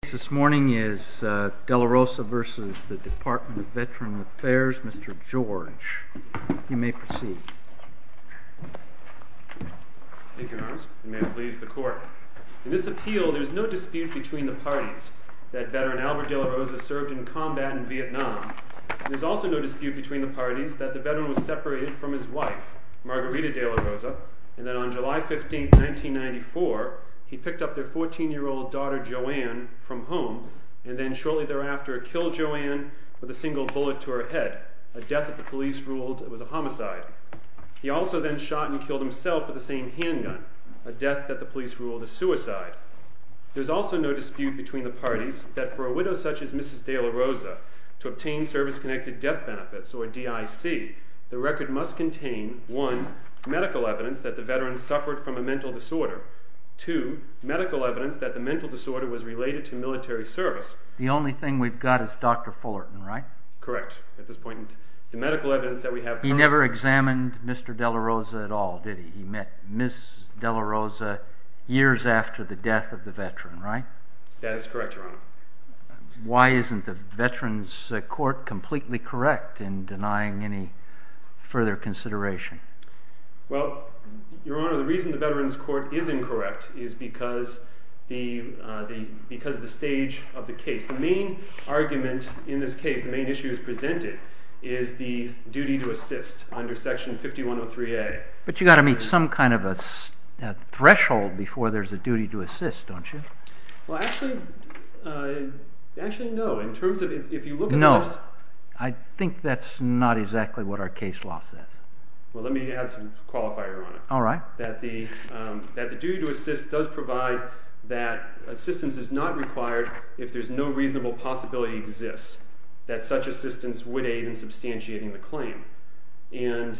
The case this morning is Delarosa v. Department of Veteran Affairs, Mr. George. You may proceed. Thank you, Your Honor. And may it please the Court. In this appeal, there is no dispute between the parties that Veteran Albert Delarosa served in combat in Vietnam. There is also no dispute between the parties that the Veteran was separated from his wife, Margarita Delarosa, and that on July 15, 1994, he picked up their 14-year-old daughter, Joanne, from home, and then shortly thereafter killed Joanne with a single bullet to her head, a death that the police ruled was a homicide. He also then shot and killed himself with the same handgun, a death that the police ruled a suicide. There is also no dispute between the parties that for a widow such as Mrs. Delarosa to obtain service-connected death benefits, or DIC, the record must contain, 1, medical evidence that the Veteran suffered from a mental disorder, 2, medical evidence that the mental disorder was related to military service. The only thing we've got is Dr. Fullerton, right? Correct. At this point, the medical evidence that we have... He never examined Mr. Delarosa at all, did he? He met Ms. Delarosa years after the death of the Veteran, right? That is correct, Your Honor. Why isn't the Veterans Court completely correct in denying any further consideration? Well, Your Honor, the reason the Veterans Court is incorrect is because of the stage of the case. The main argument in this case, the main issue as presented, is the duty to assist under Section 5103A. But you've got to meet some kind of a threshold before there's a duty to assist, don't you? Well, actually, no. In terms of... No. I think that's not exactly what our case law says. Well, let me add some qualifier, Your Honor. All right. That the duty to assist does provide that assistance is not required if there's no reasonable possibility exists And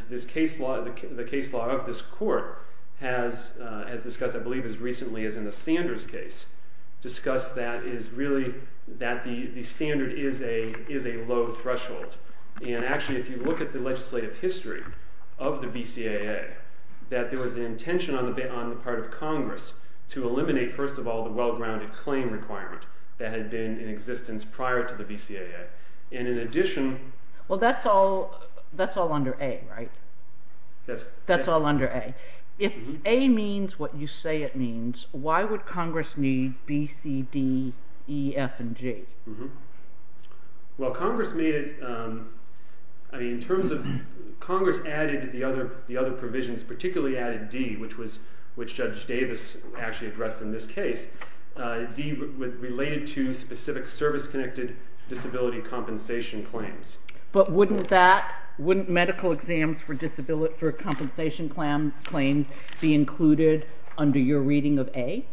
the case law of this court has, as discussed, I believe, as recently as in the Sanders case, discussed that the standard is a low threshold. And actually, if you look at the legislative history of the VCAA, that there was an intention on the part of Congress to eliminate, first of all, the well-grounded claim requirement that had been in existence prior to the VCAA. And in addition... Well, that's all under A, right? That's all under A. If A means what you say it means, why would Congress need B, C, D, E, F, and G? Well, Congress made it... I mean, in terms of... Congress added the other provisions, particularly added D, which Judge Davis actually addressed in this case. D related to specific service-connected disability compensation claims. But wouldn't that... Wouldn't medical exams for compensation claims be included under your reading of A?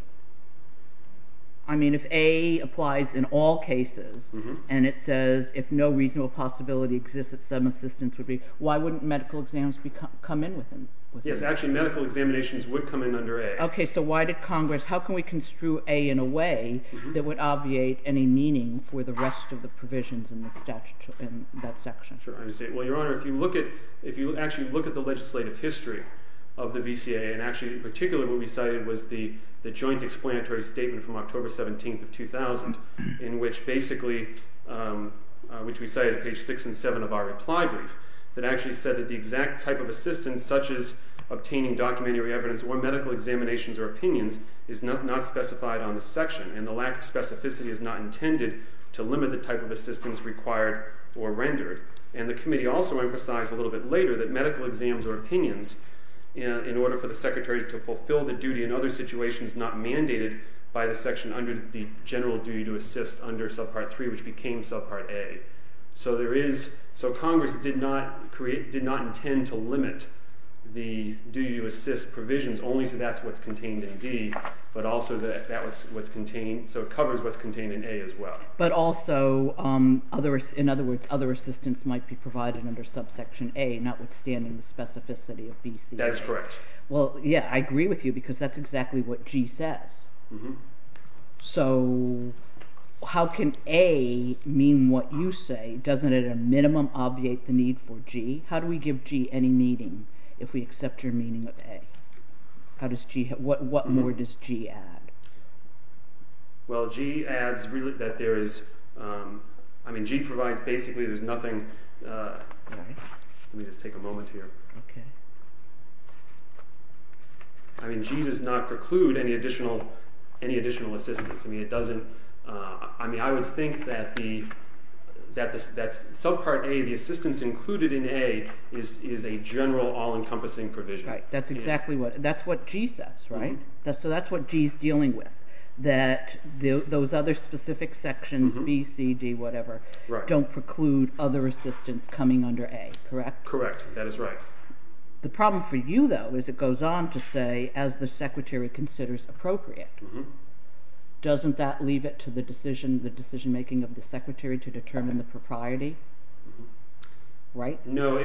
I mean, if A applies in all cases, and it says, if no reasonable possibility exists that some assistance would be... Why wouldn't medical exams come in with A? Yes, actually, medical examinations would come in under A. Okay, so why did Congress... How can we construe A in a way that would obviate any meaning for the rest of the provisions in that section? Sure, I understand. Well, Your Honor, if you look at... If you actually look at the legislative history of the VCAA, and actually, in particular, what we cited was the joint explanatory statement from October 17th of 2000, in which basically... which we cited at page 6 and 7 of our reply brief, that actually said that the exact type of assistance, such as obtaining documentary evidence or medical examinations or opinions, is not specified on the section, and the lack of specificity is not intended to limit the type of assistance required or rendered. And the committee also emphasized a little bit later that medical exams or opinions, in order for the secretary to fulfill the duty in other situations not mandated by the section under the general duty to assist under subpart 3, which became subpart A. So there is... So Congress did not intend to limit the duty to assist provisions only so that's what's contained in D, but also that's what's contained... so it covers what's contained in A as well. But also, in other words, other assistance might be provided under subsection A, notwithstanding the specificity of BCAA. That is correct. Mm-hmm. So how can A mean what you say? Doesn't it at a minimum obviate the need for G? How do we give G any meaning if we accept your meaning of A? How does G... What more does G add? Well, G adds that there is... I mean, G provides basically there's nothing... Let me just take a moment here. Okay. I mean, G does not preclude any additional assistance. I mean, it doesn't... I mean, I would think that subpart A, the assistance included in A, is a general, all-encompassing provision. Right. That's exactly what... That's what G says, right? So that's what G's dealing with, that those other specific sections, B, C, D, whatever, don't preclude other assistance coming under A, correct? Correct. That is right. The problem for you, though, is it goes on to say, as the Secretary considers appropriate, doesn't that leave it to the decision-making of the Secretary to determine the propriety? Mm-hmm. Right? No,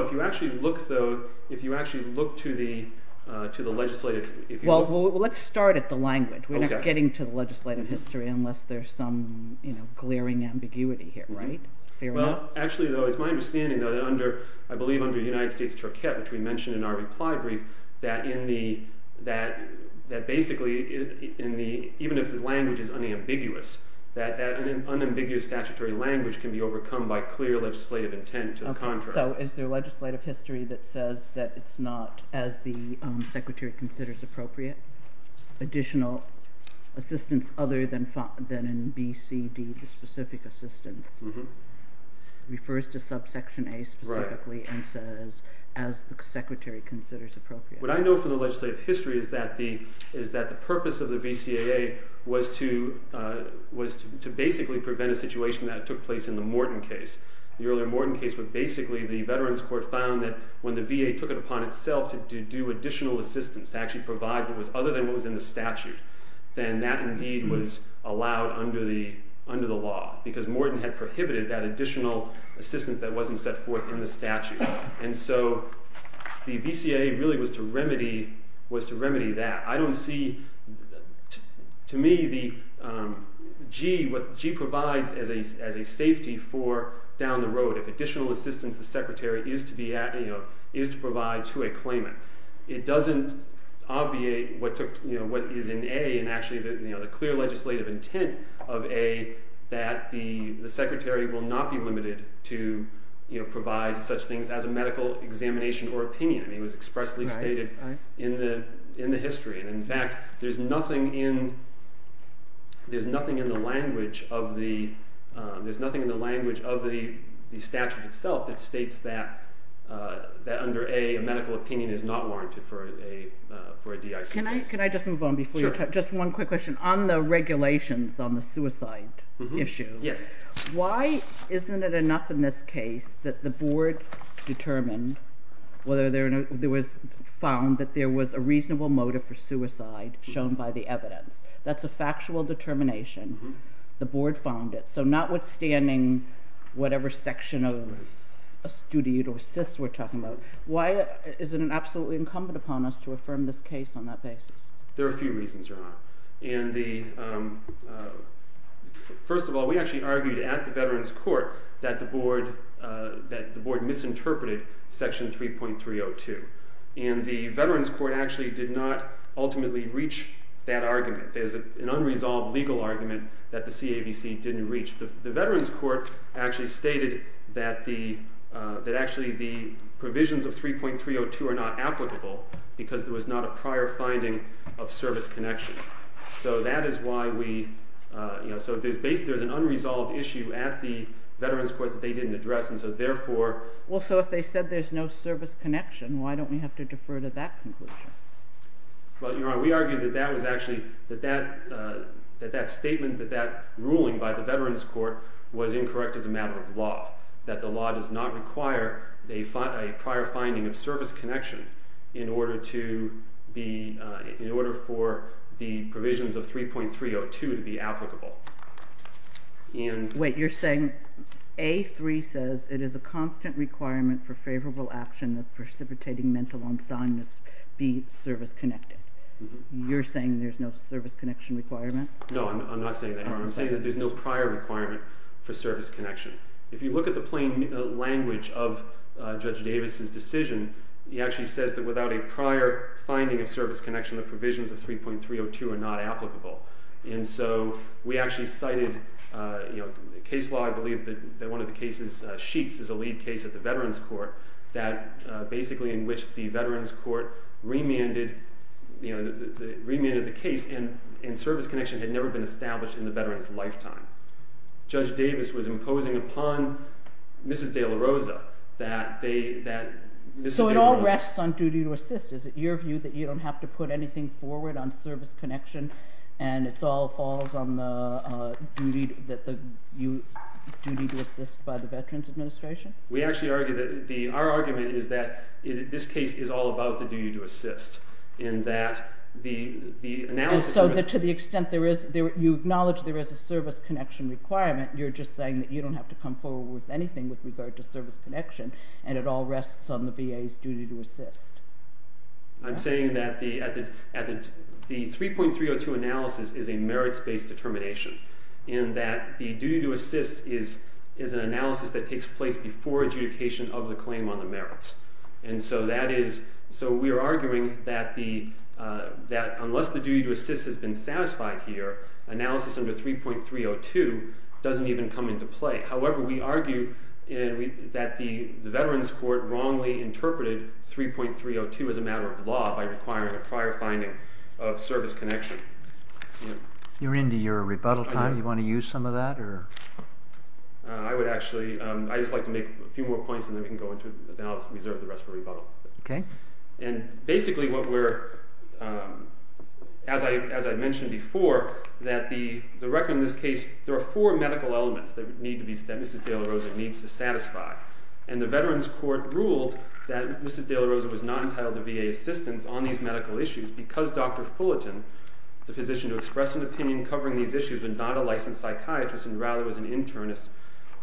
if you actually look, though, if you actually look to the legislative... Well, let's start at the language. We're not getting to the legislative history unless there's some glaring ambiguity here, right? Fair enough? Well, actually, though, it's my understanding, though, that even under, I believe, under United States Turquoise, which we mentioned in our reply brief, that basically, even if the language is unambiguous, that an unambiguous statutory language can be overcome by clear legislative intent to the contrary. So is there legislative history that says that it's not, as the Secretary considers appropriate, additional assistance other than in B, C, D, the specific assistance? Mm-hmm. It refers to subsection A specifically... Right. ...and says, as the Secretary considers appropriate. What I know from the legislative history is that the purpose of the VCAA was to basically prevent a situation that took place in the Morton case. The earlier Morton case was basically, the Veterans Court found that when the VA took it upon itself to do additional assistance, to actually provide what was other than what was in the statute, then that, indeed, was allowed under the law because Morton had prohibited that additional assistance that wasn't set forth in the statute. And so the VCAA really was to remedy that. I don't see, to me, what G provides as a safety for down the road, if additional assistance the Secretary is to provide to a claimant. It doesn't obviate what is in A and actually the clear legislative intent of A that the Secretary will not be limited to provide such things as a medical examination or opinion. It was expressly stated in the history. In fact, there's nothing in the language of the statute itself that states that under A, a medical opinion is not warranted for a DIC case. Can I just move on before you talk? Sure. Just one quick question. On the regulations on the suicide issue, why isn't it enough in this case that the Board determined whether there was found that there was a reasonable motive for suicide shown by the evidence? That's a factual determination. The Board found it. So notwithstanding whatever section of astute or cis we're talking about, why is it absolutely incumbent upon us to affirm this case on that basis? There are a few reasons why. First of all, we actually argued at the Veterans Court that the Board misinterpreted Section 3.302, and the Veterans Court actually did not ultimately reach that argument. There's an unresolved legal argument that the CAVC didn't reach. The Veterans Court actually stated that actually the provisions of 3.302 are not applicable because there was not a prior finding of service connection. So that is why we, you know, so there's an unresolved issue at the Veterans Court that they didn't address, and so therefore... Well, so if they said there's no service connection, why don't we have to defer to that conclusion? Well, Your Honor, we argued that that was actually, that that statement, that that ruling by the Veterans Court was incorrect as a matter of law, that the law does not require a prior finding of service connection in order for the provisions of 3.302 to be applicable. Wait, you're saying A)(3 says, it is a constant requirement for favorable action that precipitating mental insomnia be service connected. You're saying there's no service connection requirement? No, I'm not saying that, Your Honor. I'm saying that there's no prior requirement for service connection. If you look at the plain language of Judge Davis's decision, he actually says that without a prior finding of service connection, the provisions of 3.302 are not applicable. And so we actually cited, you know, case law I believe that one of the cases sheets is a lead case at the Veterans Court that basically in which the Veterans Court remanded, you know, remanded the case and service connection had never been established in the veteran's lifetime. Judge Davis was imposing upon Mrs. De La Rosa that they, that Mrs. De La Rosa... So it all rests on duty to assist. Is it your view that you don't have to put anything forward on service connection and it all falls on the duty to assist by the Veterans Administration? We actually argue that the, our argument is that this case is all about the duty to assist in that the analysis... To the extent there is, you acknowledge there is a service connection requirement, you're just saying that you don't have to come forward with anything with regard to service connection and it all rests on the VA's duty to assist. I'm saying that the 3.302 analysis is a merits-based determination in that the duty to assist is an analysis that takes place before adjudication of the claim on the merits. And so that is, so we are arguing that the, that unless the duty to assist has been satisfied here, analysis under 3.302 doesn't even come into play. However, we argue that the Veterans Court wrongly interpreted 3.302 as a matter of law by requiring a prior finding of service connection. You're into your rebuttal time. Do you want to use some of that or... I would actually, I'd just like to make a few more points And basically what we're, as I mentioned before, that the record in this case, there are four medical elements that Mrs. de la Rosa needs to satisfy. And the Veterans Court ruled that Mrs. de la Rosa was not entitled to VA assistance on these medical issues because Dr. Fullerton is a physician to express an opinion covering these issues and not a licensed psychiatrist and rather was an internist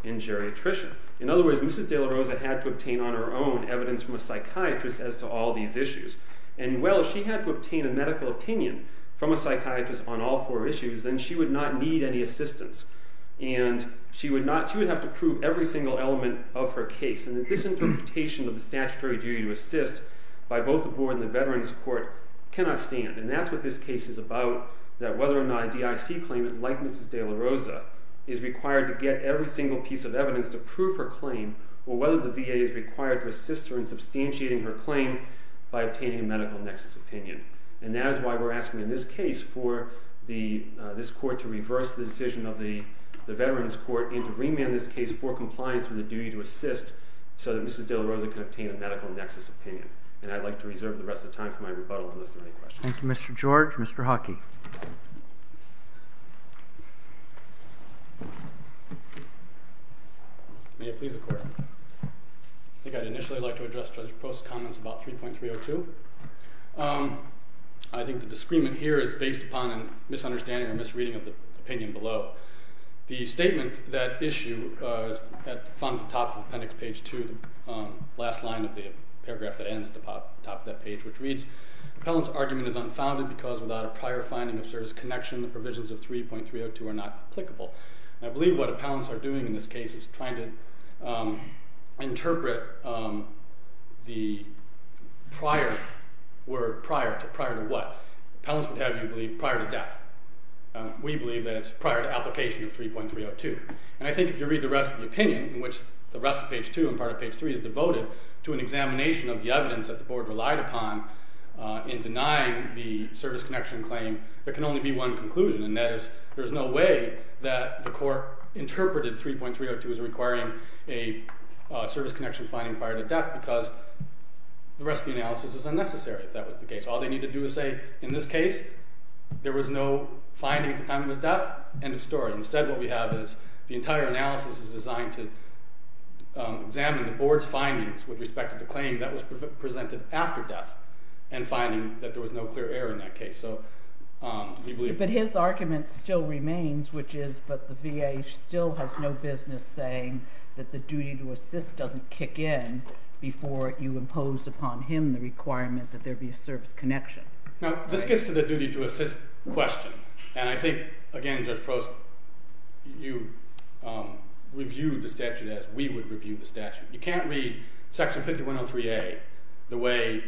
and geriatrician. In other words, Mrs. de la Rosa had to obtain on her own evidence from a psychiatrist as to all these issues. And well, if she had to obtain a medical opinion from a psychiatrist on all four issues, then she would not need any assistance. And she would not, she would have to prove every single element of her case. And this interpretation of the statutory duty to assist by both the Board and the Veterans Court cannot stand. And that's what this case is about, that whether or not a DIC claimant like Mrs. de la Rosa is required to get every single piece of evidence to prove her claim or whether the VA is required to assist her in substantiating her claim by obtaining a medical nexus opinion. And that is why we're asking in this case for this Court to reverse the decision of the Veterans Court and to remand this case for compliance with the duty to assist so that Mrs. de la Rosa can obtain a medical nexus opinion. And I'd like to reserve the rest of the time for my rebuttal Thank you, Mr. George. Mr. Hockey. May it please the Court. I think I'd initially like to address Judge Post's comments about 3.302. I think the discrement here is based upon a misunderstanding or misreading of the opinion below. The statement that issue is found at the top of appendix page 2, the last line of the paragraph that ends at the top of that page, which reads, Appellant's argument is unfounded because without a prior finding of service connection the provisions of 3.302 are not applicable. I believe what appellants are doing in this case is trying to interpret the prior word prior to what. Appellants would have you believe prior to death. We believe that it's prior to application of 3.302. And I think if you read the rest of the opinion, in which the rest of page 2 and part of page 3 is devoted to an examination of the evidence that the Board relied upon in denying the service connection claim, there can only be one conclusion, and that is there's no way that the Court interpreted 3.302 as requiring a service connection finding prior to death because the rest of the analysis is unnecessary if that was the case. All they need to do is say in this case there was no finding at the time of his death, end of story. Instead what we have is the entire analysis is designed to examine the Board's findings with respect to the claim that was presented after death and finding that there was no clear error in that case. But his argument still remains, which is that the VA still has no business saying that the duty to assist doesn't kick in before you impose upon him the requirement that there be a service connection. Now this gets to the duty to assist question. And I think, again, Judge Prost, you review the statute as we would review the statute. You can't read Section 5103A the way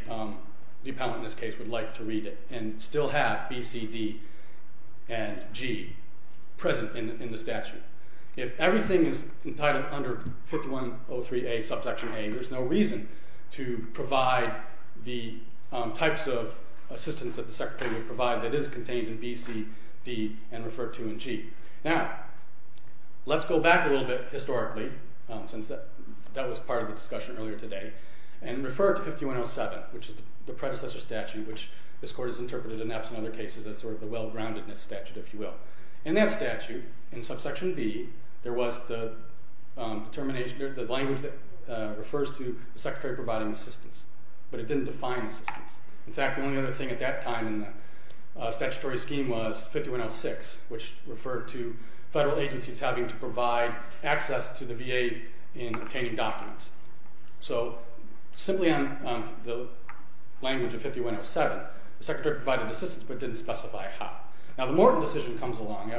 the appellant in this case would like to read it and still have B, C, D, and G present in the statute. If everything is entitled under 5103A, subsection A, there's no reason to provide the types of assistance that the Secretary would provide that is contained in B, C, D, and referred to in G. Now let's go back a little bit historically since that was part of the discussion earlier today and refer to 5107, which is the predecessor statute, which this Court has interpreted in absent other cases as sort of the well-groundedness statute, if you will. In that statute, in subsection B, there was the language that refers to the Secretary providing assistance, but it didn't define assistance. In fact, the only other thing at that time in the statutory scheme was 5106, which referred to federal agencies having to provide access to the VA in obtaining documents. So simply on the language of 5107, the Secretary provided assistance, but didn't specify how. Now the Morton decision comes along,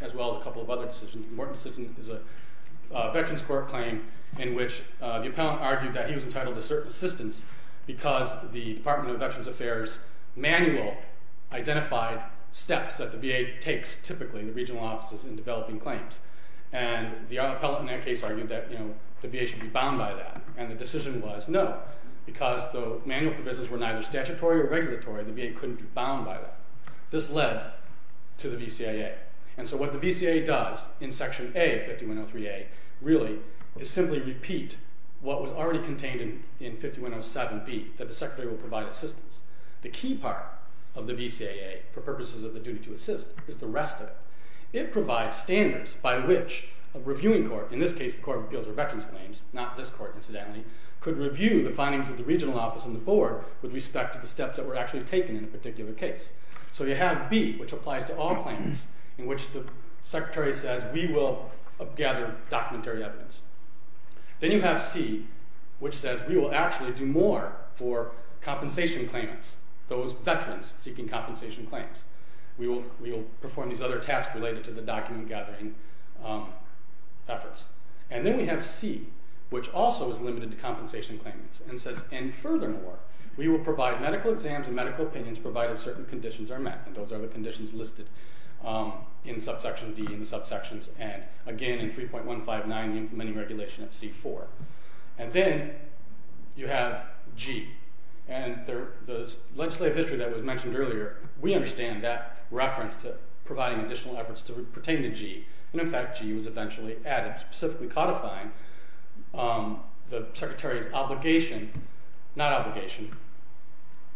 as well as a couple of other decisions. The Morton decision is a Veterans Court claim in which the appellant argued that he was entitled to certain assistance because the Department of Veterans Affairs manual identified steps that the VA takes, typically in the regional offices, in developing claims. And the appellant in that case argued that the VA should be bound by that, and the decision was no, because the manual provisions were neither statutory or regulatory, the VA couldn't be bound by that. This led to the VCAA. And so what the VCAA does in section A of 5103A really is simply repeat what was already contained in 5107B, that the Secretary will provide assistance. The key part of the VCAA, for purposes of the duty to assist, is the rest of it. It provides standards by which a reviewing court, in this case the Court of Appeals for Veterans Claims, not this court, incidentally, could review the findings of the regional office and the board with respect to the steps that were actually taken in a particular case. So you have B, which applies to all claims, in which the Secretary says, we will gather documentary evidence. Then you have C, which says, we will actually do more for compensation claims, those veterans seeking compensation claims. We will perform these other tasks related to the document-gathering efforts. And then we have C, which also is limited to compensation claims, and says, and furthermore, we will provide medical exams and medical opinions provided certain conditions are met. And those are the conditions listed in subsection D and subsections N. Again, in 3.159, the implementing regulation of C-4. And then you have G. And the legislative history that was mentioned earlier, we understand that reference to providing additional efforts to pertain to G. And in fact, G was eventually added, specifically codifying the Secretary's obligation, not obligation,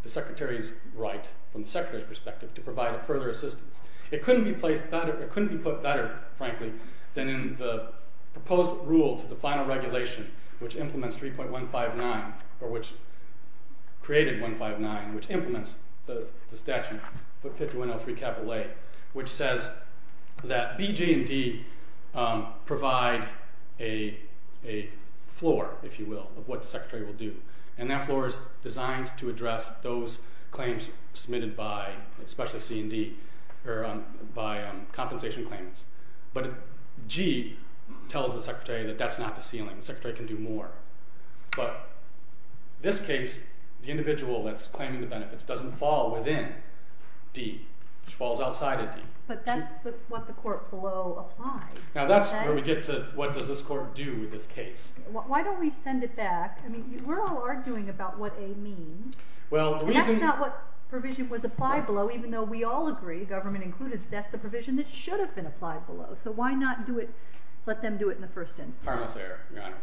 the Secretary's right, from the Secretary's perspective, to provide further assistance. It couldn't be put better, frankly, than in the proposed rule to the final regulation, which implements 3.159, or which created 159, which implements the statute, the 5103 A, which says that B, G, and D provide a floor, if you will, of what the Secretary will do. And that floor is designed to address those claims submitted by, especially C and D, by compensation claims. But G tells the Secretary that that's not the ceiling. The Secretary can do more. But in this case, the individual that's claiming the benefits doesn't fall within D. It falls outside of D. But that's what the court below applied. Now that's where we get to, what does this court do with this case? Why don't we send it back? We're all arguing about what A means. And that's not what provision was applied below, even though we all agree, government included, that's the provision that should have been applied below. So why not let them do it in the first instance? Pardon us, Your Honor.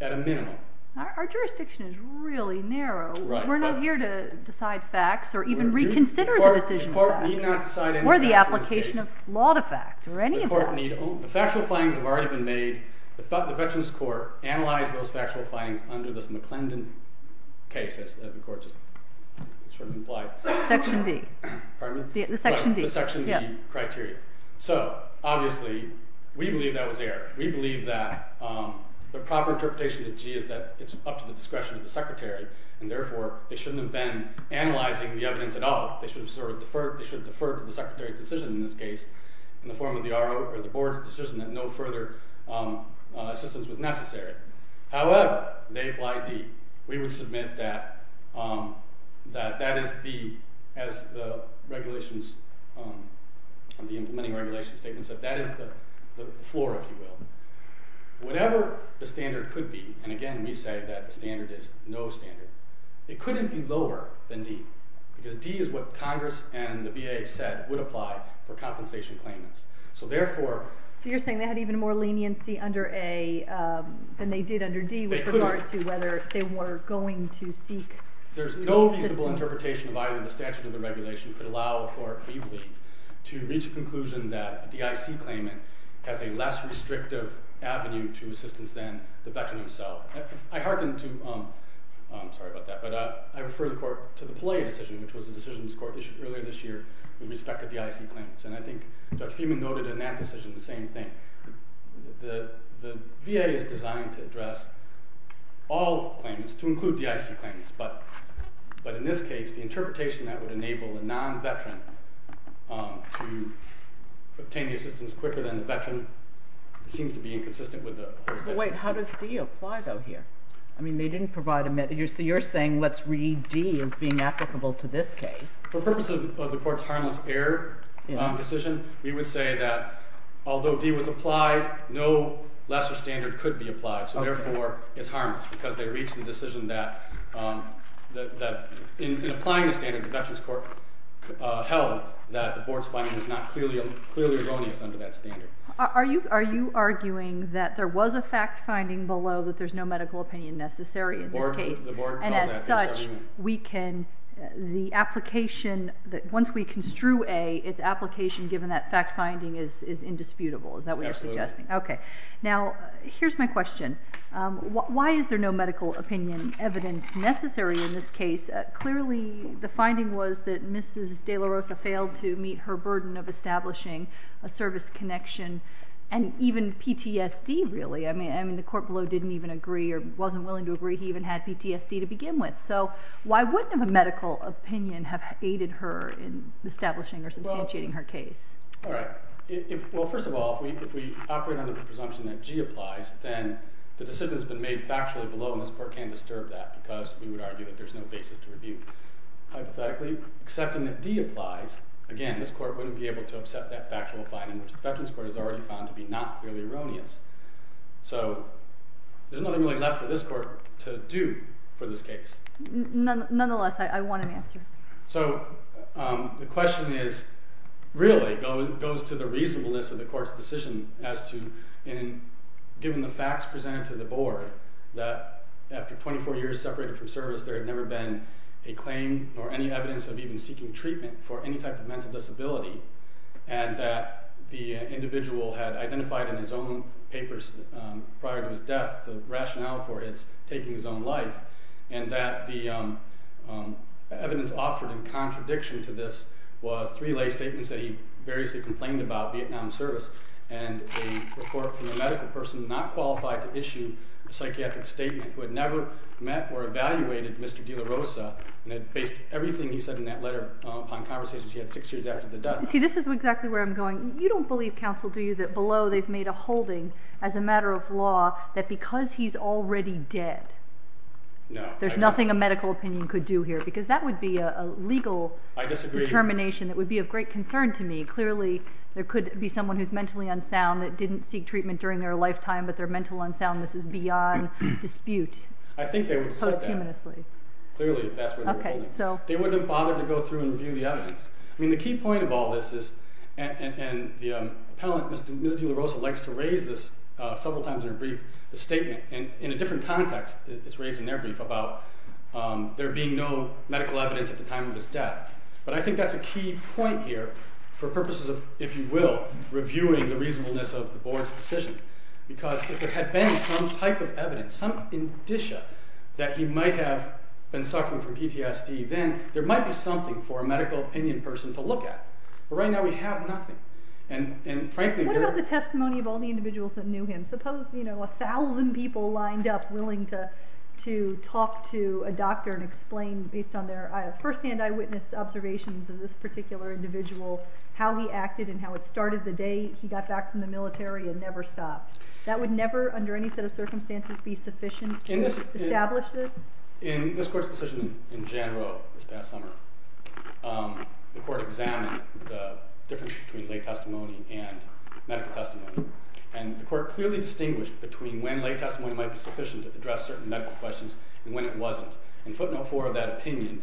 At a minimum. Our jurisdiction is really narrow. We're not here to decide facts or even reconsider the decision. The court need not decide any facts in this case. Or the application of law to fact, or any of that. The factual findings have already been made. The Veterans Court analyzed those factual findings under this McClendon case, as the court just sort of implied. Section D. Pardon me? The Section D. The Section D criteria. So, obviously, we believe that was error. We believe that the proper interpretation of G is that it's up to the discretion of the Secretary. And therefore, they shouldn't have been analyzing the evidence at all. They should have deferred to the Secretary's decision, in this case, in the form of the Board's decision that no further assistance was necessary. However, they apply D. We would submit that that is the, as the implementing regulation statement said, that is the floor, if you will. Whatever the standard could be, and again, we say that the standard is no standard. It couldn't be lower than D. Because D is what Congress and the VA said would apply for compensation claimants. So, therefore... So, you're saying they had even more leniency under A than they did under D, with regard to whether they were going to seek... There's no reasonable interpretation of either in the statute or the regulation that could allow a court, we believe, to reach a conclusion that a DIC claimant has a less restrictive avenue to assistance than the veteran himself. I hearken to... I'm sorry about that, but I refer the court to the Pelea decision, which was a decision this court issued earlier this year with respect to DIC claimants. And I think Judge Fieman noted in that decision the same thing. The VA is designed to address all claimants, to include DIC claimants, but in this case, the interpretation that would enable a non-veteran to obtain the assistance quicker than the veteran seems to be inconsistent with the... Wait, how does D apply, though, here? I mean, they didn't provide... So, you're saying, let's read D as being applicable to this case. For purposes of the court's harmless error decision, we would say that, although D was applied, no lesser standard could be applied, so, therefore, it's harmless, because they reached the decision that, in applying the standard, the Veterans Court held that the board's finding was not clearly erroneous under that standard. Are you arguing that there was a fact-finding below that there's no medical opinion necessary in this case? The board calls that... And, as such, we can... The application, once we construe A, its application, given that fact-finding, is indisputable, is that what you're suggesting? Absolutely. Okay. Now, here's my question. Why is there no medical opinion evidence necessary in this case? Clearly, the finding was that Mrs. De La Rosa failed to meet her burden of establishing a service connection, and even PTSD, really. I mean, the court below didn't even agree or wasn't willing to agree he even had PTSD to begin with, so why wouldn't a medical opinion have aided her in establishing or substantiating her case? Well, first of all, if we operate under the presumption that G applies, then the decision's been made factually below, and this court can't disturb that, because we would argue that there's no basis to review. Hypothetically, accepting that D applies, again, this court wouldn't be able to accept that factual finding, which the Veterans Court has already found to be not clearly erroneous. So there's nothing really left for this court to do for this case. Nonetheless, I want an answer. So the question is, really, goes to the reasonableness of the court's decision as to, given the facts presented to the board, that after 24 years separated from service, there had never been a claim or any evidence of even seeking treatment for any type of mental disability, and that the individual had identified in his own papers prior to his death the rationale for his taking his own life, and that the evidence offered in contradiction to this was three lay statements that he variously complained about, Vietnam service, and a report from a medical person not qualified to issue a psychiatric statement who had never met or evaluated Mr. De La Rosa, and had based everything he said in that letter upon conversations he had six years after the death. See, this is exactly where I'm going. You don't believe, counsel, do you, that below they've made a holding as a matter of law that because he's already dead, there's nothing a medical opinion could do here, because that would be a legal determination that would be of great concern to me. Clearly, there could be someone who's mentally unsound that didn't seek treatment during their lifetime, but their mental unsoundness is beyond dispute. I think they would have said that. Clearly, if that's where they were holding. They wouldn't have bothered to go through and review the evidence. I mean, the key point of all this is, and the appellant, Ms. De La Rosa, likes to raise this several times in her brief, the statement, and in a different context, it's raised in their brief, about there being no medical evidence at the time of his death. But I think that's a key point here for purposes of, if you will, reviewing the reasonableness of the board's decision, because if there had been some type of evidence, some indicia that he might have been suffering from PTSD, then there might be something for a medical opinion person to look at. But right now, we have nothing. And frankly... What about the testimony of all the individuals that knew him? Suppose 1,000 people lined up, willing to talk to a doctor and explain, based on their firsthand eyewitness observations of this particular individual, how he acted and how it started the day he got back from the military and never stopped. That would never, under any set of circumstances, be sufficient to establish this? In this court's decision in general this past summer, the court examined the difference between lay testimony and medical testimony. And the court clearly distinguished between when lay testimony might be sufficient to address certain medical questions and when it wasn't. And footnote 4 of that opinion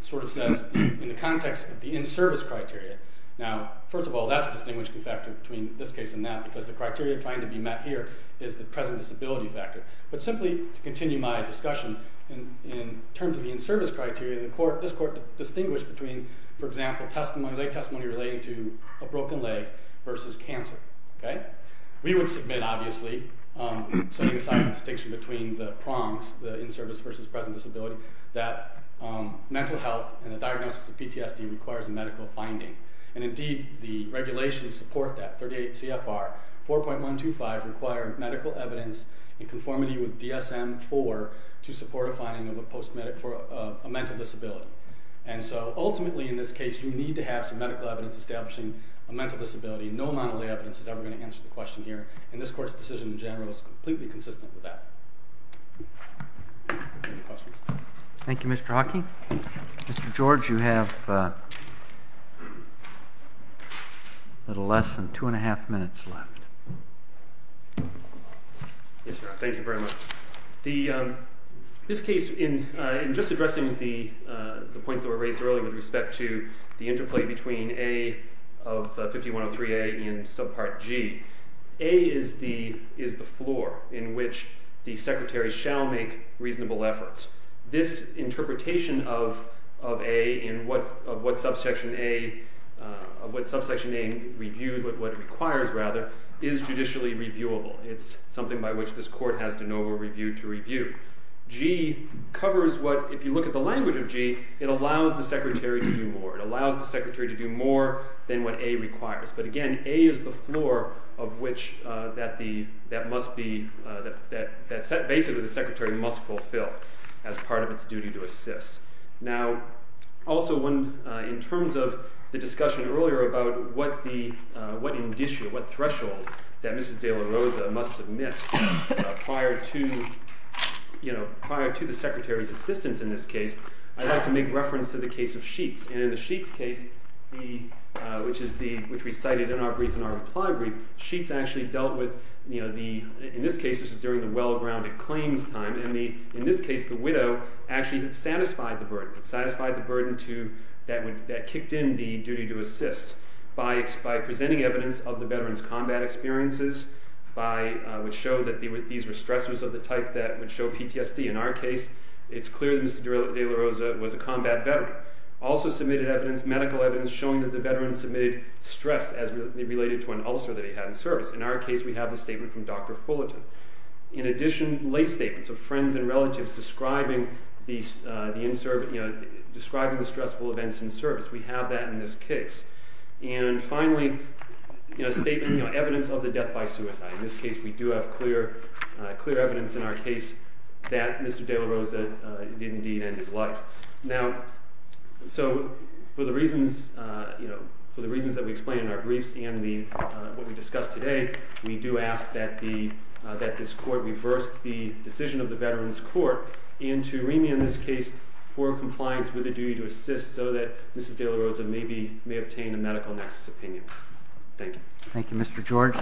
sort of says, in the context of the in-service criteria... Now, first of all, that's a distinguishing factor between this case and that, because the criteria trying to be met here is the present disability factor. But simply to continue my discussion, in terms of the in-service criteria, this court distinguished between, for example, lay testimony relating to a broken leg versus cancer. We would submit, obviously, setting aside the distinction between the prongs, the in-service versus present disability, that mental health and the diagnosis of PTSD requires a medical finding. And indeed, the regulations support that. 38 CFR 4.125 requires medical evidence in conformity with DSM-IV to support a finding of a post-medical... a mental disability. And so, ultimately, in this case, you need to have some medical evidence establishing a mental disability. No monolay evidence is ever going to answer the question here. And this court's decision in general is completely consistent with that. Any questions? Thank you, Mr. Hockey. Mr. George, you have... a little less than 2 1⁄2 minutes left. Yes, sir. Thank you very much. The, um...this case, in just addressing the points that were raised earlier with respect to the interplay between A of 5103A and subpart G, A is the floor in which the secretary shall make reasonable efforts. This interpretation of A in what subsection A... of what subsection A reviews, what it requires, rather, is judicially reviewable. It's something by which this court has de novo review to review. G covers what, if you look at the language of G, it allows the secretary to do more. It allows the secretary to do more than what A requires. But again, A is the floor of which that must be... that, basically, the secretary must fulfill as part of its duty to assist. Now, also, in terms of the discussion earlier about what threshold that Mrs. de la Rosa must submit prior to the secretary's assistance in this case, I'd like to make reference to the case of Sheets. And in the Sheets case, which we cited in our reply brief, Sheets actually dealt with... And in this case, the widow actually had satisfied the burden. Satisfied the burden that kicked in the duty to assist by presenting evidence of the veteran's combat experiences which showed that these were stressors of the type that would show PTSD. In our case, it's clear that Mrs. de la Rosa was a combat veteran. Also submitted medical evidence showing that the veteran submitted stress as related to an ulcer that he had in service. In our case, we have a statement from Dr. Fullerton. In addition, lay statements of friends and relatives describing the stressful events in service. We have that in this case. And finally, a statement, evidence of the death by suicide. In this case, we do have clear evidence in our case that Mr. de la Rosa did indeed end his life. Now, so, for the reasons that we explain in our briefs and what we discussed today, we do ask that this court reverse the decision of the Veterans Court into remand in this case for compliance with the duty to assist so that Mrs. de la Rosa may obtain a medical nexus opinion. Thank you. Thank you, Mr. George.